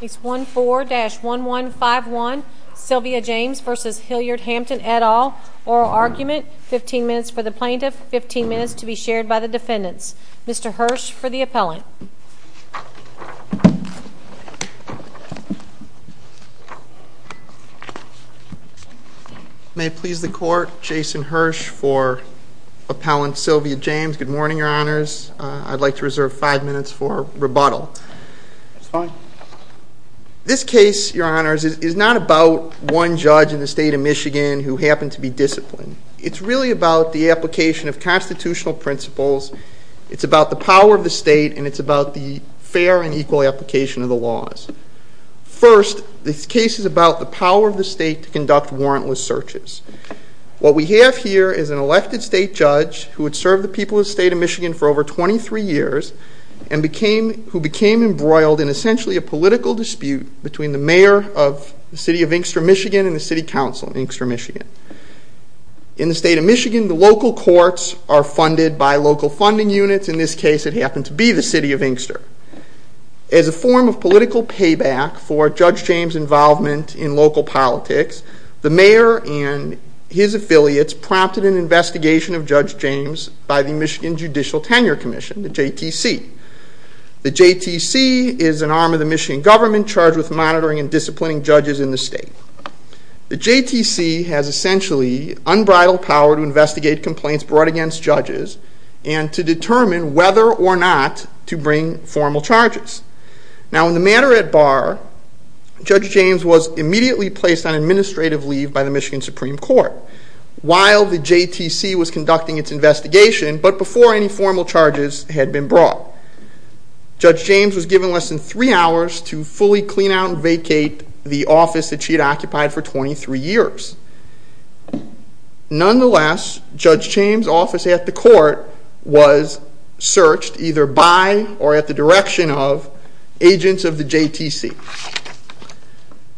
Case 14-1151 Sylvia James v. Hilliard Hampton et al. Oral argument, 15 minutes for the plaintiff, 15 minutes to be shared by the defendants. Mr. Hirsch for the appellant. May it please the court, Jason Hirsch for appellant Sylvia James. Good morning, your honors. I'd like to reserve five minutes for rebuttal. This case, your honors, is not about one judge in the state of Michigan who happened to be disciplined. It's really about the application of constitutional principles. It's about the power of the state and it's about the fair and equal application of the laws. First, this case is about the power of the state to conduct warrantless searches. What we have here is an elected state judge who had served the people of the state of Michigan for over 23 years and who became embroiled in essentially a political dispute between the mayor of the city of Inkster, Michigan and the city council of Inkster, Michigan. In the state of Michigan, the local courts are funded by local funding units. In this case, it happened to be the city of Inkster. As a form of political payback for Judge James' involvement in local politics, the mayor and his affiliates prompted an investigation of Judge James by the Michigan Judicial Tenure Commission, the JTC. The JTC is an arm of the Michigan government charged with monitoring and disciplining judges in the state. The JTC has essentially unbridled power to investigate complaints brought against judges and to determine whether or not to bring formal charges. Now, in the matter at bar, Judge James was immediately placed on administrative leave by the Michigan Supreme Court while the JTC was conducting its investigation, but before any formal charges had been brought. Judge James was given less than three hours to fully clean out and vacate the office that she had occupied for 23 years. Nonetheless, Judge James' office at the court was searched either by or at the direction of agents of the JTC.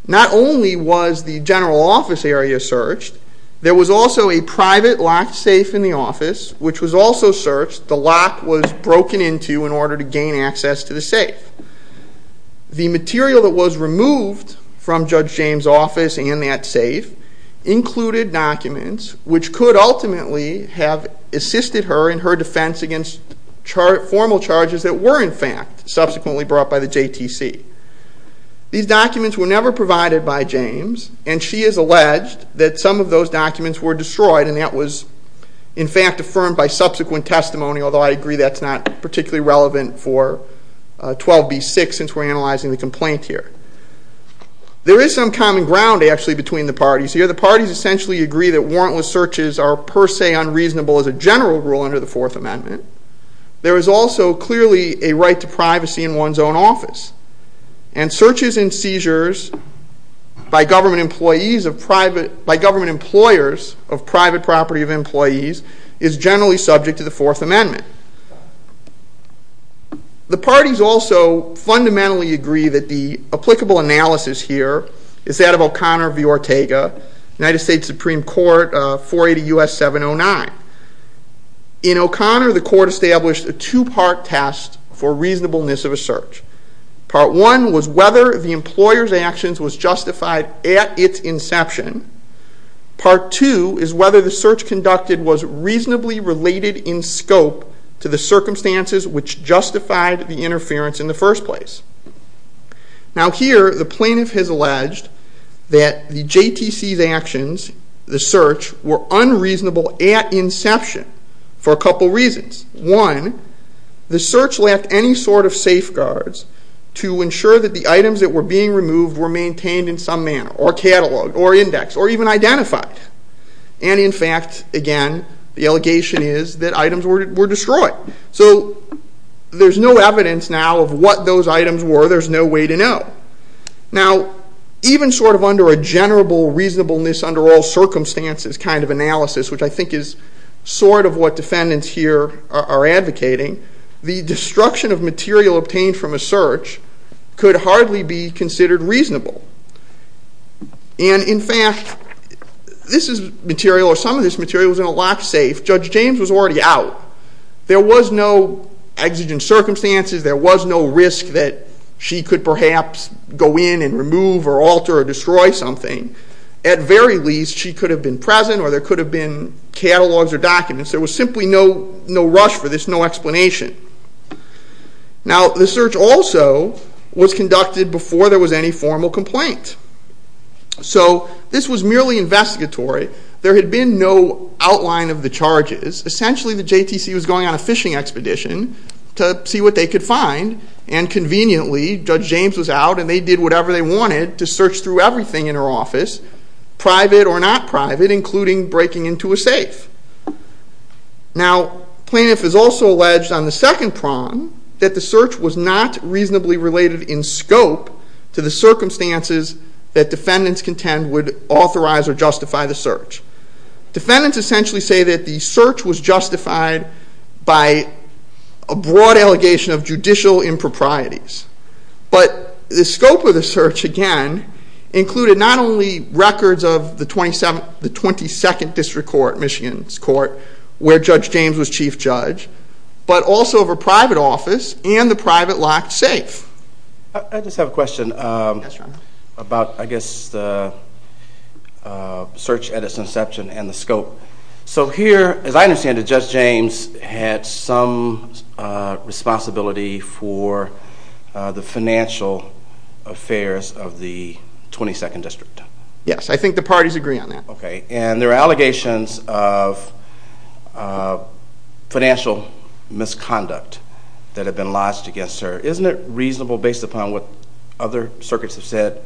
Not only was the general office area searched, there was also a private locked safe in the office, which was also searched. The lock was broken into in order to gain access to the safe. The material that was removed from Judge James' office and that safe included documents which could ultimately have assisted her in her defense against formal charges that were, in fact, subsequently brought by the JTC. These documents were never provided by James, and she has alleged that some of those documents were destroyed, and that was, in fact, affirmed by subsequent testimony, although I agree that's not particularly relevant for 12b-6 since we're analyzing the complaint here. There is some common ground, actually, between the parties here. The parties essentially agree that warrantless searches are per se unreasonable as a general rule under the Fourth Amendment. There is also clearly a right to privacy in one's own office, and searches and seizures by government employers of private property of employees is generally subject to the Fourth Amendment. The parties also fundamentally agree that the applicable analysis here is that of O'Connor v. Ortega, United States Supreme Court, 480 U.S. 709. In O'Connor, the court established a two-part test for reasonableness of a search. Part one was whether the employer's actions was justified at its inception. Part two is whether the search conducted was reasonably related in scope to the circumstances which justified the interference in the first place. Now here, the plaintiff has alleged that the JTC's actions, the search, were unreasonable at inception for a couple reasons. One, the search lacked any sort of safeguards to ensure that the items that were being removed were maintained in some manner, or cataloged, or indexed, or even identified. And in fact, again, the allegation is that items were destroyed. So there's no evidence now of what those items were. There's no way to know. Now, even sort of under a general reasonableness under all circumstances kind of analysis, which I think is sort of what defendants here are advocating, the destruction of material obtained from a search could hardly be considered reasonable. And in fact, this material, or some of this material, was in a locked safe. Judge James was already out. There was no exigent circumstances. There was no risk that she could perhaps go in and remove or alter or destroy something. At very least, she could have been present or there could have been catalogs or documents. There was simply no rush for this, no explanation. Now, the search also was conducted before there was any formal complaint. So this was merely investigatory. There had been no outline of the charges. Essentially, the JTC was going on a fishing expedition to see what they could find. And conveniently, Judge James was out and they did whatever they wanted to search through everything in her office, private or not private, including breaking into a safe. Now, plaintiff is also alleged on the second prong that the search was not reasonably related in scope to the circumstances that defendants contend would authorize or justify the search. Defendants essentially say that the search was justified by a broad allegation of judicial improprieties. But the scope of the search, again, included not only records of the 22nd District Court, Michigan's court, where Judge James was chief judge, but also of her private office and the private locked safe. I just have a question about, I guess, the search at its inception and the scope. So here, as I understand it, Judge James had some responsibility for the financial affairs of the 22nd District. Yes, I think the parties agree on that. Okay, and there are allegations of financial misconduct that have been lodged against her. Isn't it reasonable, based upon what other circuits have said,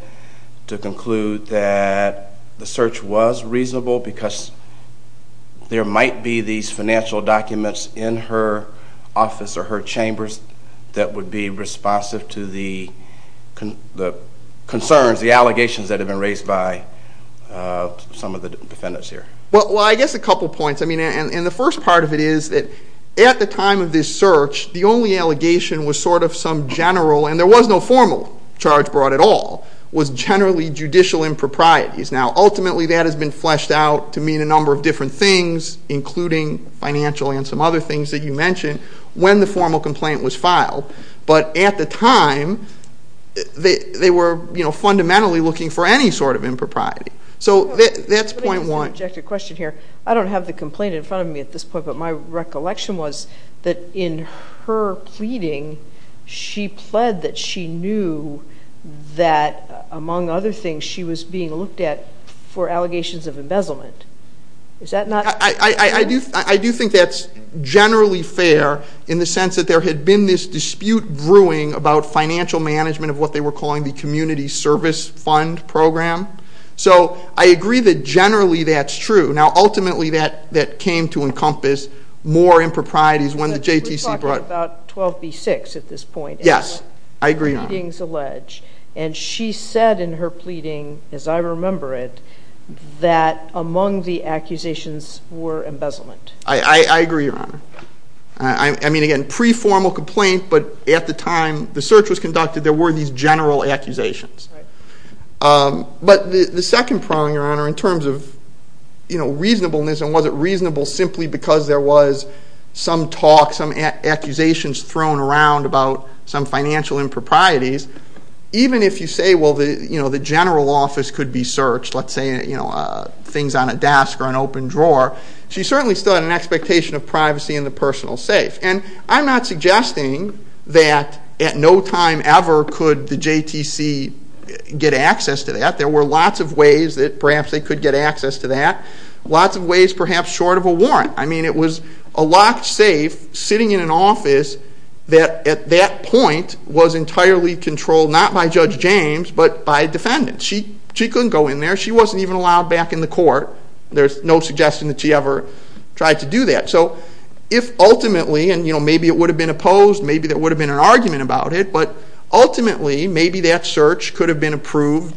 to conclude that the search was reasonable because there might be these financial documents in her office or her chambers that would be responsive to the concerns, the allegations that have been raised by some of the defendants here? Well, I guess a couple points. I mean, and the first part of it is that at the time of this search, the only allegation was sort of some general, and there was no formal charge brought at all, was generally judicial improprieties. Now, ultimately, that has been fleshed out to mean a number of different things, including financial and some other things that you mentioned, when the formal complaint was filed. But at the time, they were fundamentally looking for any sort of impropriety. So that's point one. I don't have the complaint in front of me at this point, but my recollection was that in her pleading, she pled that she knew that, among other things, she was being looked at for allegations of embezzlement. Is that not? I do think that's generally fair, in the sense that there had been this dispute brewing about financial management of what they were calling the community service fund program. So I agree that generally that's true. Now, ultimately, that came to encompass more improprieties when the JTC brought— We're talking about 12b-6 at this point. Yes, I agree, Your Honor. And the pleadings allege. And she said in her pleading, as I remember it, that among the accusations were embezzlement. I agree, Your Honor. I mean, again, pre-formal complaint, but at the time the search was conducted, there were these general accusations. Right. But the second problem, Your Honor, in terms of reasonableness, and was it reasonable simply because there was some talk, some accusations thrown around about some financial improprieties, even if you say, well, the general office could be searched, let's say things on a desk or an open drawer, she certainly still had an expectation of privacy in the personal safe. And I'm not suggesting that at no time ever could the JTC get access to that. There were lots of ways that perhaps they could get access to that, lots of ways perhaps short of a warrant. I mean, it was a locked safe sitting in an office that at that point was entirely controlled not by Judge James but by a defendant. She couldn't go in there. She wasn't even allowed back in the court. There's no suggestion that she ever tried to do that. So if ultimately, and maybe it would have been opposed, maybe there would have been an argument about it, but ultimately maybe that search could have been approved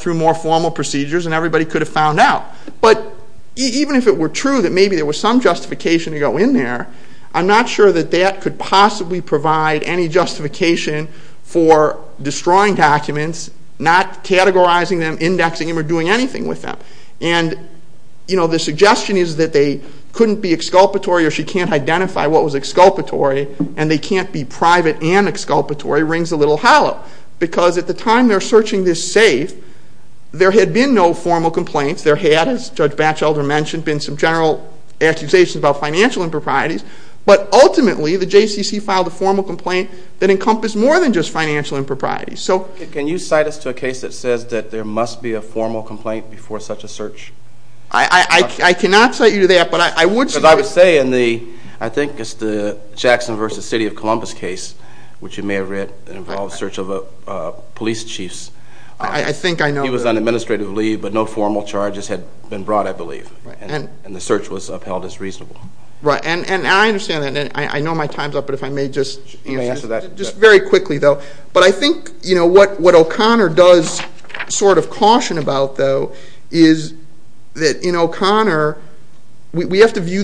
through more formal procedures and everybody could have found out. But even if it were true that maybe there was some justification to go in there, I'm not sure that that could possibly provide any justification for destroying documents, not categorizing them, indexing them, or doing anything with them. And the suggestion is that they couldn't be exculpatory or she can't identify what was exculpatory and they can't be private and exculpatory rings a little hollow. Because at the time they're searching this safe, there had been no formal complaints. There had, as Judge Batchelder mentioned, been some general accusations about financial improprieties. But ultimately, the JCC filed a formal complaint that encompassed more than just financial improprieties. So- Can you cite us to a case that says that there must be a formal complaint before such a search? I cannot cite you to that, but I would say- Because I would say in the, I think it's the Jackson v. City of Columbus case, which you may have read, that involved search of police chiefs. I think I know- He was on administrative leave, but no formal charges had been brought, I believe. And the search was upheld as reasonable. Right. And I understand that. I know my time's up, but if I may just- You may answer that. Just very quickly, though. But I think what O'Connor does sort of caution about, though, is that in O'Connor, we have to view,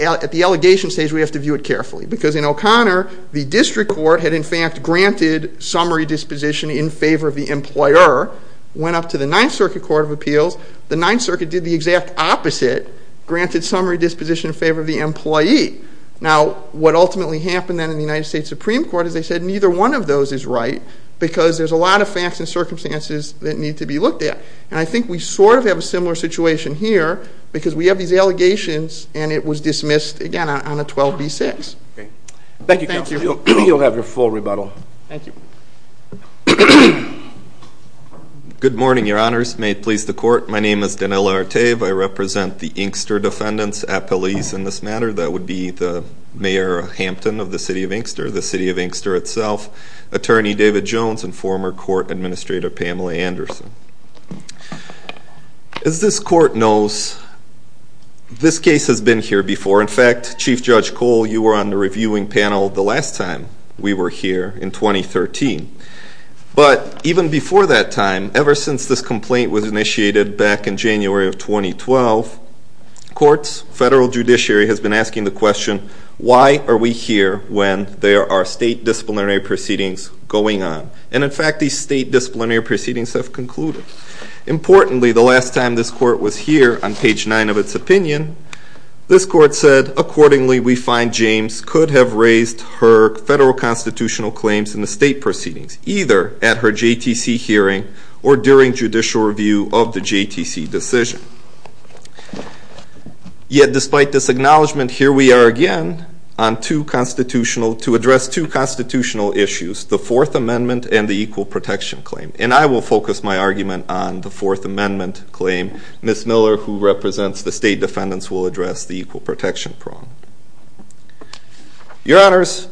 at the allegation stage, we have to view it carefully. Because in O'Connor, the district court had in fact granted summary disposition in favor of the employer, went up to the Ninth Circuit Court of Appeals. The Ninth Circuit did the exact opposite, granted summary disposition in favor of the employee. Now, what ultimately happened then in the United States Supreme Court is they said neither one of those is right because there's a lot of facts and circumstances that need to be looked at. And I think we sort of have a similar situation here because we have these allegations, and it was dismissed, again, on a 12b-6. Okay. Thank you, counsel. Thank you. You'll have your full rebuttal. Thank you. Good morning, Your Honors. May it please the Court. My name is Danilo Arteve. I represent the Inkster defendants at police in this matter. That would be the Mayor Hampton of the City of Inkster, the City of Inkster itself, Attorney David Jones, and former Court Administrator Pamela Anderson. As this Court knows, this case has been here before. In fact, Chief Judge Cole, you were on the reviewing panel the last time we were here in 2013. But even before that time, ever since this complaint was initiated back in January of 2012, courts, federal judiciary, has been asking the question, why are we here when there are state disciplinary proceedings going on? And, in fact, these state disciplinary proceedings have concluded. Importantly, the last time this Court was here, on page 9 of its opinion, this Court said, accordingly, we find James could have raised her federal constitutional claims in the state proceedings, either at her JTC hearing or during judicial review of the JTC decision. Yet, despite this acknowledgment, here we are again to address two constitutional issues, the Fourth Amendment and the Equal Protection Claim. And I will focus my argument on the Fourth Amendment claim. Ms. Miller, who represents the state defendants, will address the Equal Protection claim. Your Honors,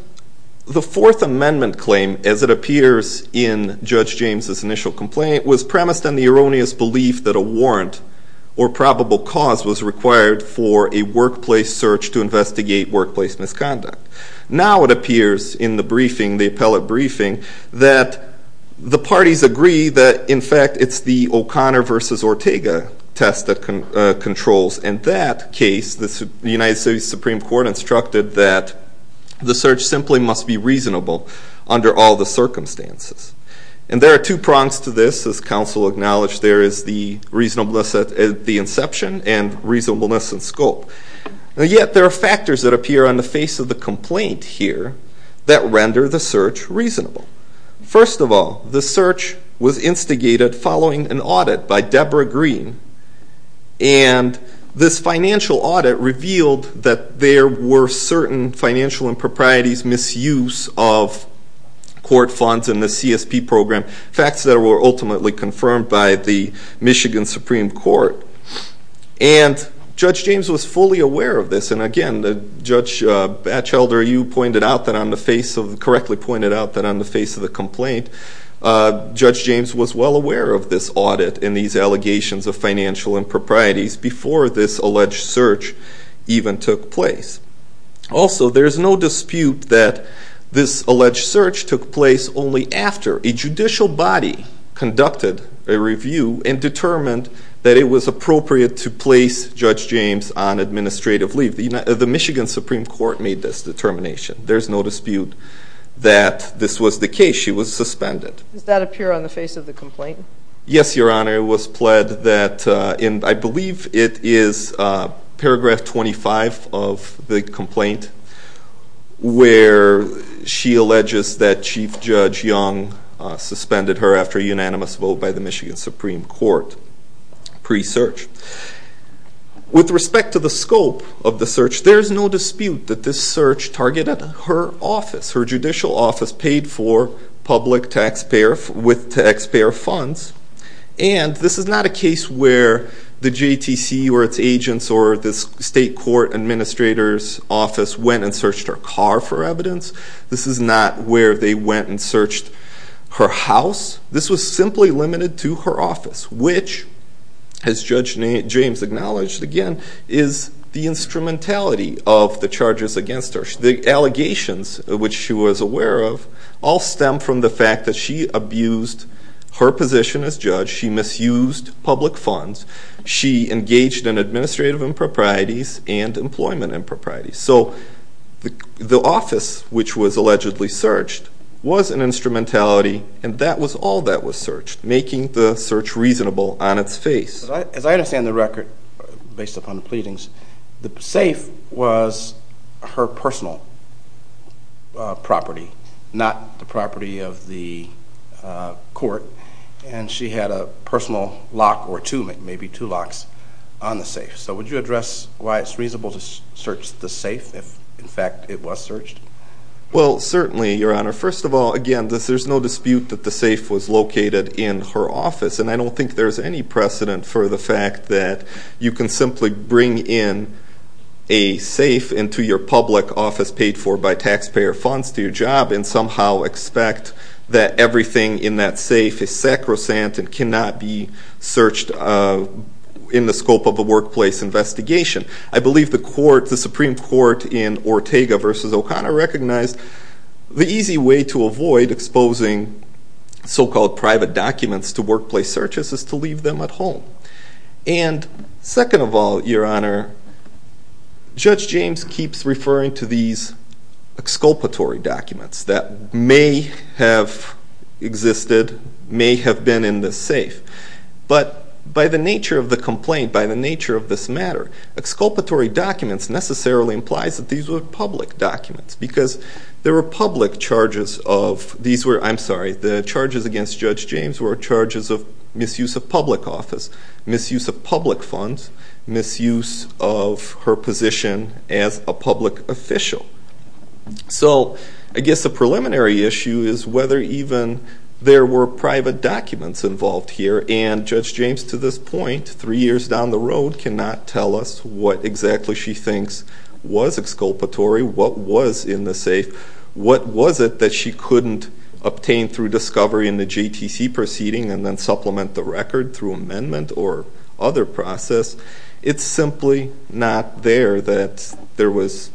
the Fourth Amendment claim, as it appears in Judge James's initial complaint, was premised on the erroneous belief that a warrant or probable cause was required for a workplace search to investigate workplace misconduct. Now it appears in the briefing, the appellate briefing, that the parties agree that, in fact, it's the O'Connor v. Ortega test that controls. In that case, the United States Supreme Court instructed that the search simply must be reasonable under all the circumstances. And there are two prongs to this. As counsel acknowledged, there is the reasonableness at the inception and reasonableness in scope. And yet, there are factors that appear on the face of the complaint here that render the search reasonable. First of all, the search was instigated following an audit by Deborah Green and this financial audit revealed that there were certain financial improprieties, misuse of court funds in the CSP program, facts that were ultimately confirmed by the Michigan Supreme Court. And Judge James was fully aware of this. And again, Judge Batchelder, you pointed out that on the face of, correctly pointed out that on the face of the complaint, Judge James was well aware of this audit and these allegations of financial improprieties before this alleged search even took place. Also, there's no dispute that this alleged search took place only after a judicial body conducted a review and determined that it was appropriate to place Judge James on administrative leave. The Michigan Supreme Court made this determination. There's no dispute that this was the case. She was suspended. Does that appear on the face of the complaint? Yes, Your Honor. It was pled that in, I believe it is paragraph 25 of the complaint, where she alleges that Chief Judge Young suspended her after a unanimous vote by the Michigan Supreme Court pre-search. With respect to the scope of the search, there's no dispute that this search targeted her office, her judicial office paid for public taxpayer, with taxpayer funds. And this is not a case where the JTC or its agents or the state court administrator's office went and searched her car for evidence. This is not where they went and searched her house. This was simply limited to her office, which, as Judge James acknowledged again, is the instrumentality of the charges against her. The allegations which she was aware of all stem from the fact that she abused her position as judge. She misused public funds. She engaged in administrative improprieties and employment improprieties. So the office which was allegedly searched was an instrumentality, and that was all that was searched, making the search reasonable on its face. As I understand the record, based upon the pleadings, the safe was her personal property, not the property of the court, and she had a personal lock or two, maybe two locks, on the safe. So would you address why it's reasonable to search the safe if, in fact, it was searched? Well, certainly, Your Honor. First of all, again, there's no dispute that the safe was located in her office, and I don't think there's any precedent for the fact that you can simply bring in a safe into your public office paid for by taxpayer funds to your job and somehow expect that everything in that safe is sacrosanct and cannot be searched in the scope of a workplace investigation. I believe the Supreme Court in Ortega v. O'Connor recognized the easy way to avoid exposing so-called private documents to workplace searches is to leave them at home. And second of all, Your Honor, Judge James keeps referring to these exculpatory documents that may have existed, may have been in this safe. But by the nature of the complaint, by the nature of this matter, exculpatory documents necessarily implies that these were public documents because there were public charges of these were, I'm sorry, the charges against Judge James were charges of misuse of public office, misuse of public funds, misuse of her position as a public official. So I guess the preliminary issue is whether even there were private documents involved here, and Judge James, to this point, three years down the road, cannot tell us what exactly she thinks was exculpatory, what was in the safe, what was it that she couldn't obtain through discovery in the JTC proceeding and then supplement the record through amendment or other process. It's simply not there that there was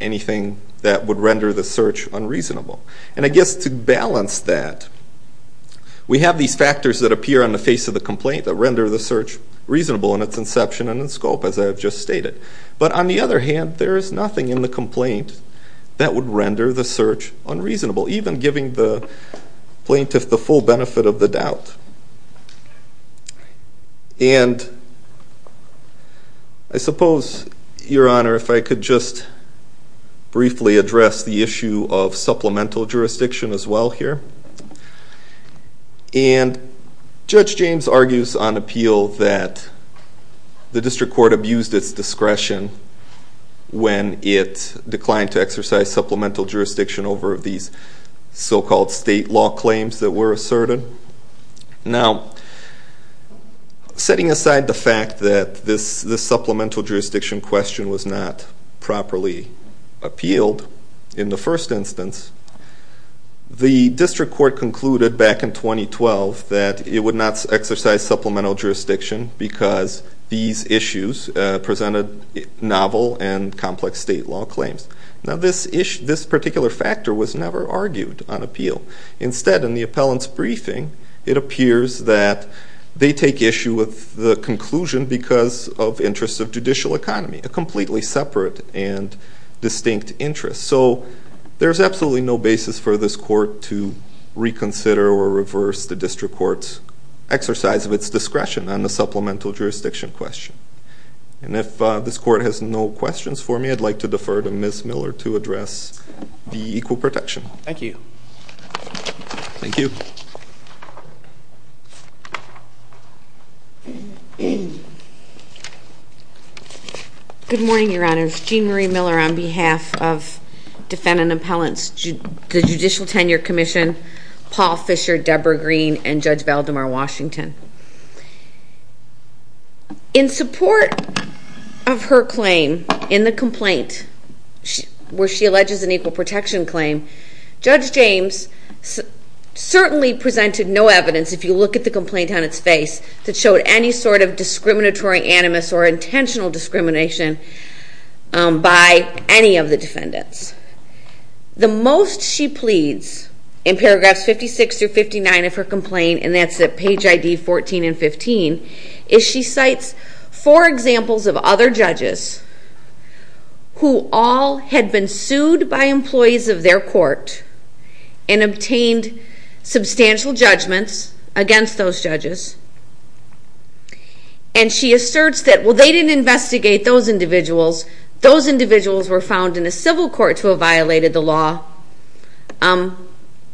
anything that would render the search unreasonable. And I guess to balance that, we have these factors that appear on the face of the complaint that render the search reasonable in its inception and in scope, as I have just stated. But on the other hand, there is nothing in the complaint that would render the search unreasonable, even giving the plaintiff the full benefit of the doubt. And I suppose, Your Honor, if I could just briefly address the issue of supplemental jurisdiction as well here. And Judge James argues on appeal that the district court abused its discretion when it declined to exercise supplemental jurisdiction over these so-called state law claims that were asserted. Now, setting aside the fact that this supplemental jurisdiction question was not properly appealed in the first instance, the district court concluded back in 2012 that it would not exercise supplemental jurisdiction because these issues presented novel and complex state law claims. Now, this particular factor was never argued on appeal. Instead, in the appellant's briefing, it appears that they take issue with the conclusion because of interests of judicial economy, a completely separate and distinct interest. So there's absolutely no basis for this court to reconsider or reverse the district court's exercise of its discretion on the supplemental jurisdiction question. And if this court has no questions for me, I'd like to defer to Ms. Miller to address the equal protection. Thank you. Thank you. Good morning, Your Honors. Jean Marie Miller on behalf of Defendant Appellants, the Judicial Tenure Commission, Paul Fisher, Deborah Green, and Judge Valdemar Washington. In support of her claim in the complaint where she alleges an equal protection claim, Judge James certainly presented no evidence, if you look at the complaint on its face, that showed any sort of discriminatory animus or intentional discrimination by any of the defendants. The most she pleads in paragraphs 56 through 59 of her complaint, and that's at page ID 14 and 15, is she cites four examples of other judges who all had been sued by employees of their court and obtained substantial judgments against those judges. And she asserts that, well, they didn't investigate those individuals. Those individuals were found in a civil court to have violated the law,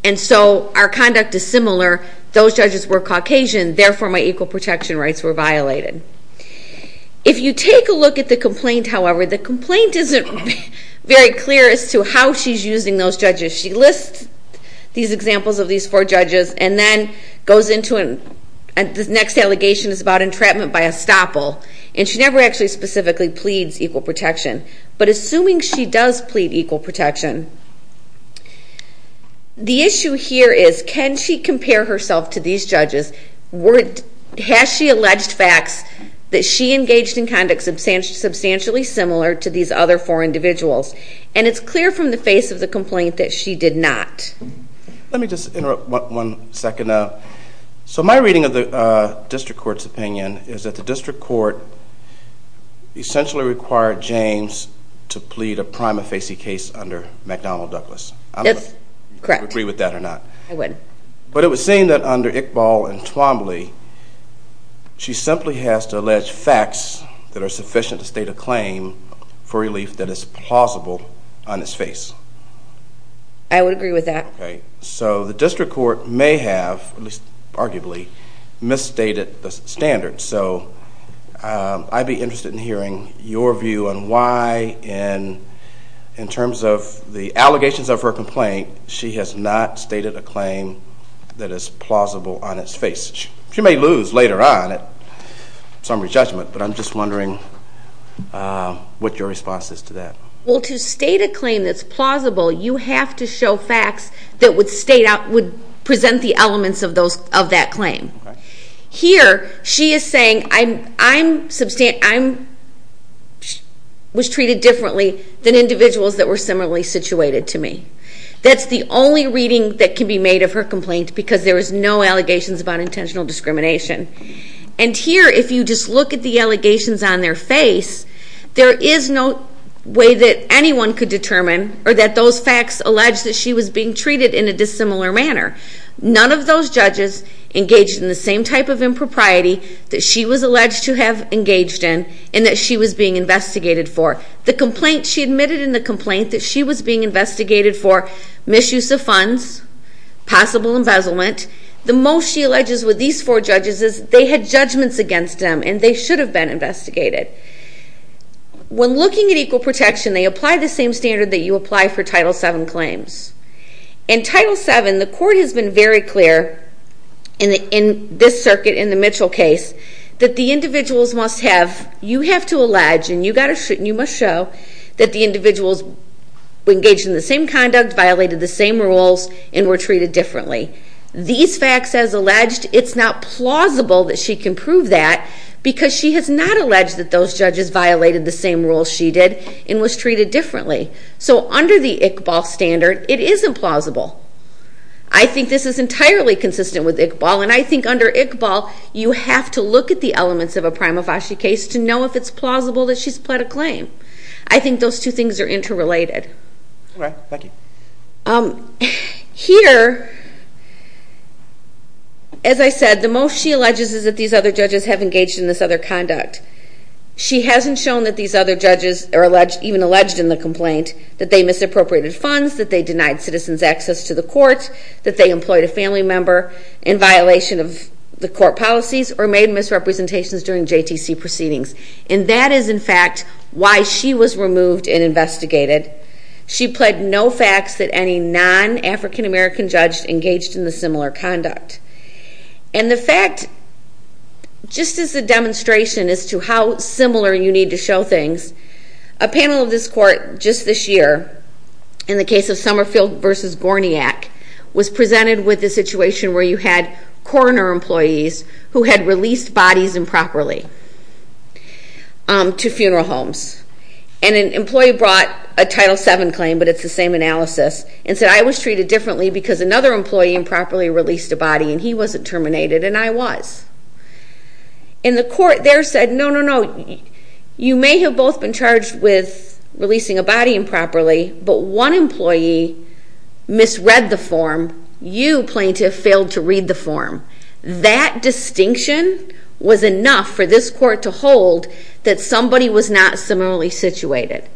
and so our conduct is similar. Those judges were Caucasian, therefore my equal protection rights were violated. If you take a look at the complaint, however, the complaint isn't very clear as to how she's using those judges. She lists these examples of these four judges and then goes into the next allegation is about entrapment by estoppel, and she never actually specifically pleads equal protection. But assuming she does plead equal protection, the issue here is can she compare herself to these judges? Has she alleged facts that she engaged in conduct substantially similar to these other four individuals? And it's clear from the face of the complaint that she did not. Let me just interrupt one second. So my reading of the district court's opinion is that the district court essentially required James to plead a prima facie case under McDonnell Douglas. Yes, correct. Do you agree with that or not? I would. But it was saying that under Iqbal and Twombly, she simply has to allege facts that are sufficient to state a claim for relief that is plausible on his face. I would agree with that. Okay. So the district court may have, at least arguably, misstated the standards. So I'd be interested in hearing your view on why, in terms of the allegations of her complaint, she has not stated a claim that is plausible on his face. She may lose later on at summary judgment, but I'm just wondering what your response is to that. Well, to state a claim that's plausible, you have to show facts that would present the elements of that claim. Here, she is saying, I was treated differently than individuals that were similarly situated to me. That's the only reading that can be made of her complaint because there was no allegations about intentional discrimination. And here, if you just look at the allegations on their face, there is no way that anyone could determine or that those facts allege that she was being treated in a dissimilar manner. None of those judges engaged in the same type of impropriety that she was alleged to have engaged in and that she was being investigated for. She admitted in the complaint that she was being investigated for misuse of funds, possible embezzlement. The most she alleges with these four judges is they had judgments against them and they should have been investigated. When looking at equal protection, they apply the same standard that you apply for Title VII claims. In Title VII, the court has been very clear in this circuit, in the Mitchell case, that the individuals must have, you have to allege and you must show, that the individuals engaged in the same conduct, violated the same rules, and were treated differently. These facts, as alleged, it's not plausible that she can prove that because she has not alleged that those judges violated the same rules she did and was treated differently. So under the Iqbal standard, it isn't plausible. I think this is entirely consistent with Iqbal, and I think under Iqbal, you have to look at the elements of a prima facie case to know if it's plausible that she's pled a claim. I think those two things are interrelated. Here, as I said, the most she alleges is that these other judges have engaged in this other conduct. She hasn't shown that these other judges are even alleged in the complaint, that they misappropriated funds, that they denied citizens access to the court, that they employed a family member in violation of the court policies, or made misrepresentations during JTC proceedings. And that is, in fact, why she was removed and investigated. She pled no facts that any non-African-American judge engaged in the similar conduct. And the fact, just as a demonstration as to how similar you need to show things, a panel of this court just this year, in the case of Summerfield v. Gorniak, was presented with the situation where you had coroner employees who had released bodies improperly. To funeral homes. And an employee brought a Title VII claim, but it's the same analysis, and said, I was treated differently because another employee improperly released a body, and he wasn't terminated, and I was. And the court there said, no, no, no. You may have both been charged with releasing a body improperly, but one employee misread the form. You, plaintiff, failed to read the form. That distinction was enough for this court to hold that somebody was not similarly situated.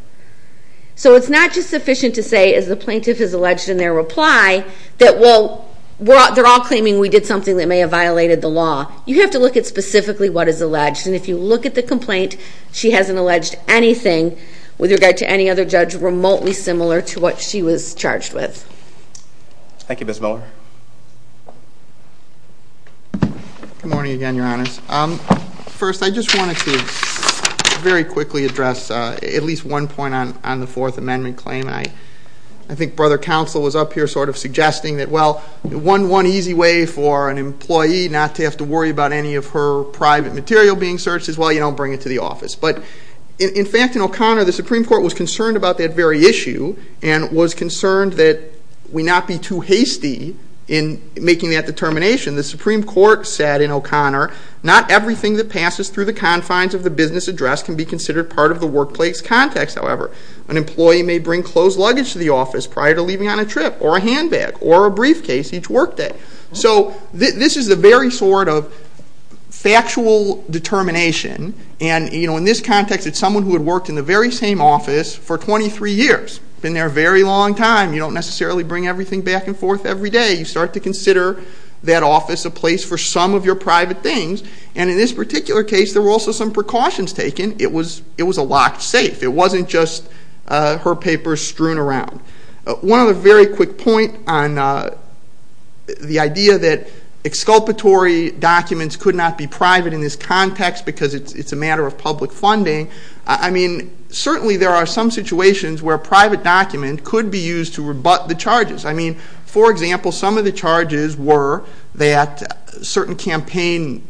So it's not just sufficient to say, as the plaintiff has alleged in their reply, that, well, they're all claiming we did something that may have violated the law. You have to look at specifically what is alleged. And if you look at the complaint, she hasn't alleged anything, with regard to any other judge, remotely similar to what she was charged with. Thank you, Ms. Miller. Good morning again, Your Honors. First, I just wanted to very quickly address at least one point on the Fourth Amendment claim. And I think Brother Counsel was up here sort of suggesting that, well, one easy way for an employee not to have to worry about any of her private material being searched is, well, you don't bring it to the office. But, in fact, in O'Connor, the Supreme Court was concerned about that very issue and was concerned that we not be too hasty in making that determination. The Supreme Court said in O'Connor, not everything that passes through the confines of the business address can be considered part of the workplace context, however. An employee may bring closed luggage to the office prior to leaving on a trip, or a handbag, or a briefcase each workday. So this is the very sort of factual determination. And, you know, in this context, it's someone who had worked in the very same office for 23 years. Been there a very long time. You don't necessarily bring everything back and forth every day. You start to consider that office a place for some of your private things. And in this particular case, there were also some precautions taken. It was a locked safe. It wasn't just her papers strewn around. One other very quick point on the idea that exculpatory documents could not be private in this context because it's a matter of public funding. I mean, certainly there are some situations where a private document could be used to rebut the charges. I mean, for example, some of the charges were that certain campaign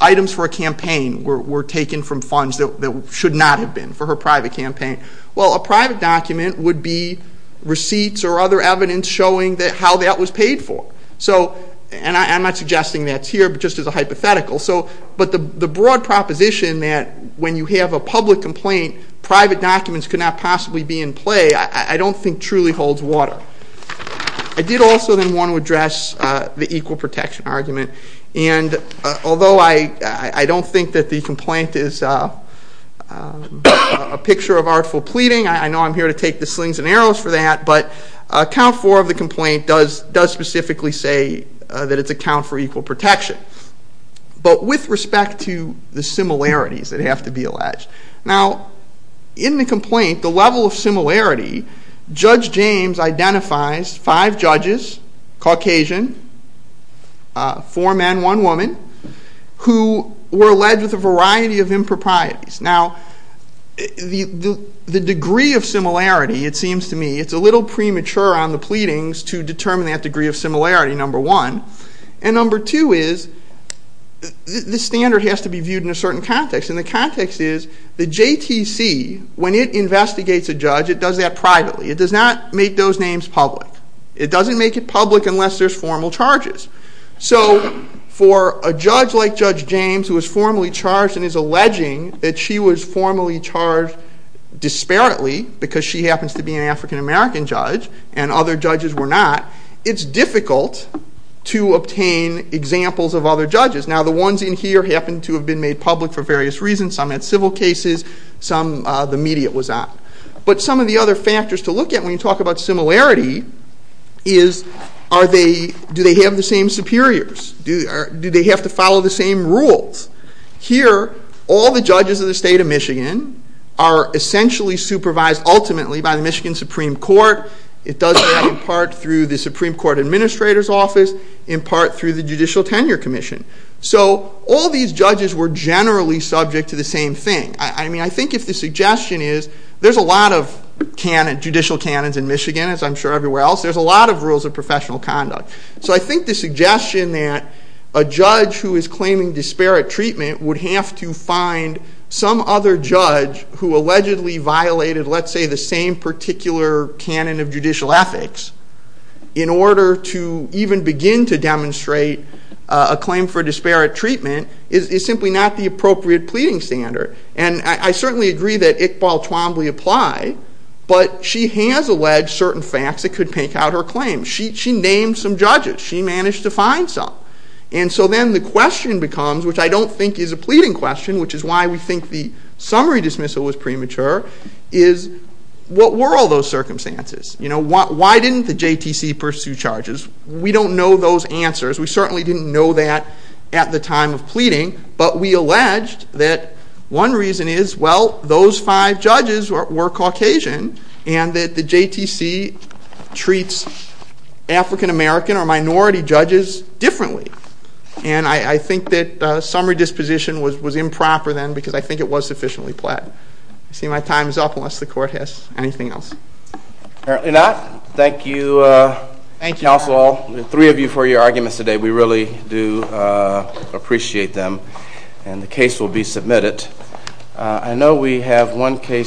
items for a campaign were taken from funds that should not have been for her private campaign. Well, a private document would be receipts or other evidence showing how that was paid for. So, and I'm not suggesting that's here, but just as a hypothetical. So, but the broad proposition that when you have a public complaint, private documents could not possibly be in play, I don't think truly holds water. I did also then want to address the equal protection argument. And although I don't think that the complaint is a picture of artful pleading, I know I'm here to take the slings and arrows for that, but count four of the complaint does specifically say that it's a count for equal protection. But with respect to the similarities that have to be alleged. Now, in the complaint, the level of similarity, Judge James identifies five judges, Caucasian, four men, one woman, who were alleged with a variety of improprieties. Now, the degree of similarity, it seems to me, it's a little premature on the pleadings to determine that degree of similarity, number one. And number two is the standard has to be viewed in a certain context. And the context is the JTC, when it investigates a judge, it does that privately. It does not make those names public. It doesn't make it public unless there's formal charges. So for a judge like Judge James, who is formally charged and is alleging that she was formally charged disparately because she happens to be an African-American judge and other judges were not, it's difficult to obtain examples of other judges. Now, the ones in here happen to have been made public for various reasons. Some had civil cases. Some the media was on. But some of the other factors to look at when you talk about similarity is do they have the same superiors? Do they have to follow the same rules? Here, all the judges of the state of Michigan are essentially supervised ultimately by the Michigan Supreme Court. It does that in part through the Supreme Court Administrator's Office, in part through the Judicial Tenure Commission. So all these judges were generally subject to the same thing. I mean, I think if the suggestion is there's a lot of judicial canons in Michigan, as I'm sure everywhere else. There's a lot of rules of professional conduct. So I think the suggestion that a judge who is claiming disparate treatment would have to find some other judge who allegedly violated, let's say, the same particular canon of judicial ethics in order to even begin to demonstrate a claim for disparate treatment is simply not the appropriate pleading standard. And I certainly agree that Iqbal Twombly applied, but she has alleged certain facts that could pink out her claim. She named some judges. She managed to find some. And so then the question becomes, which I don't think is a pleading question, which is why we think the summary dismissal was premature, is what were all those circumstances? You know, why didn't the JTC pursue charges? We don't know those answers. We certainly didn't know that at the time of pleading. But we alleged that one reason is, well, those five judges were Caucasian and that the JTC treats African-American or minority judges differently. And I think that the summary disposition was improper then because I think it was sufficiently plaid. I see my time is up unless the Court has anything else. Apparently not. Thank you, counsel, all three of you for your arguments today. We really do appreciate them. And the case will be submitted. I know we have one case.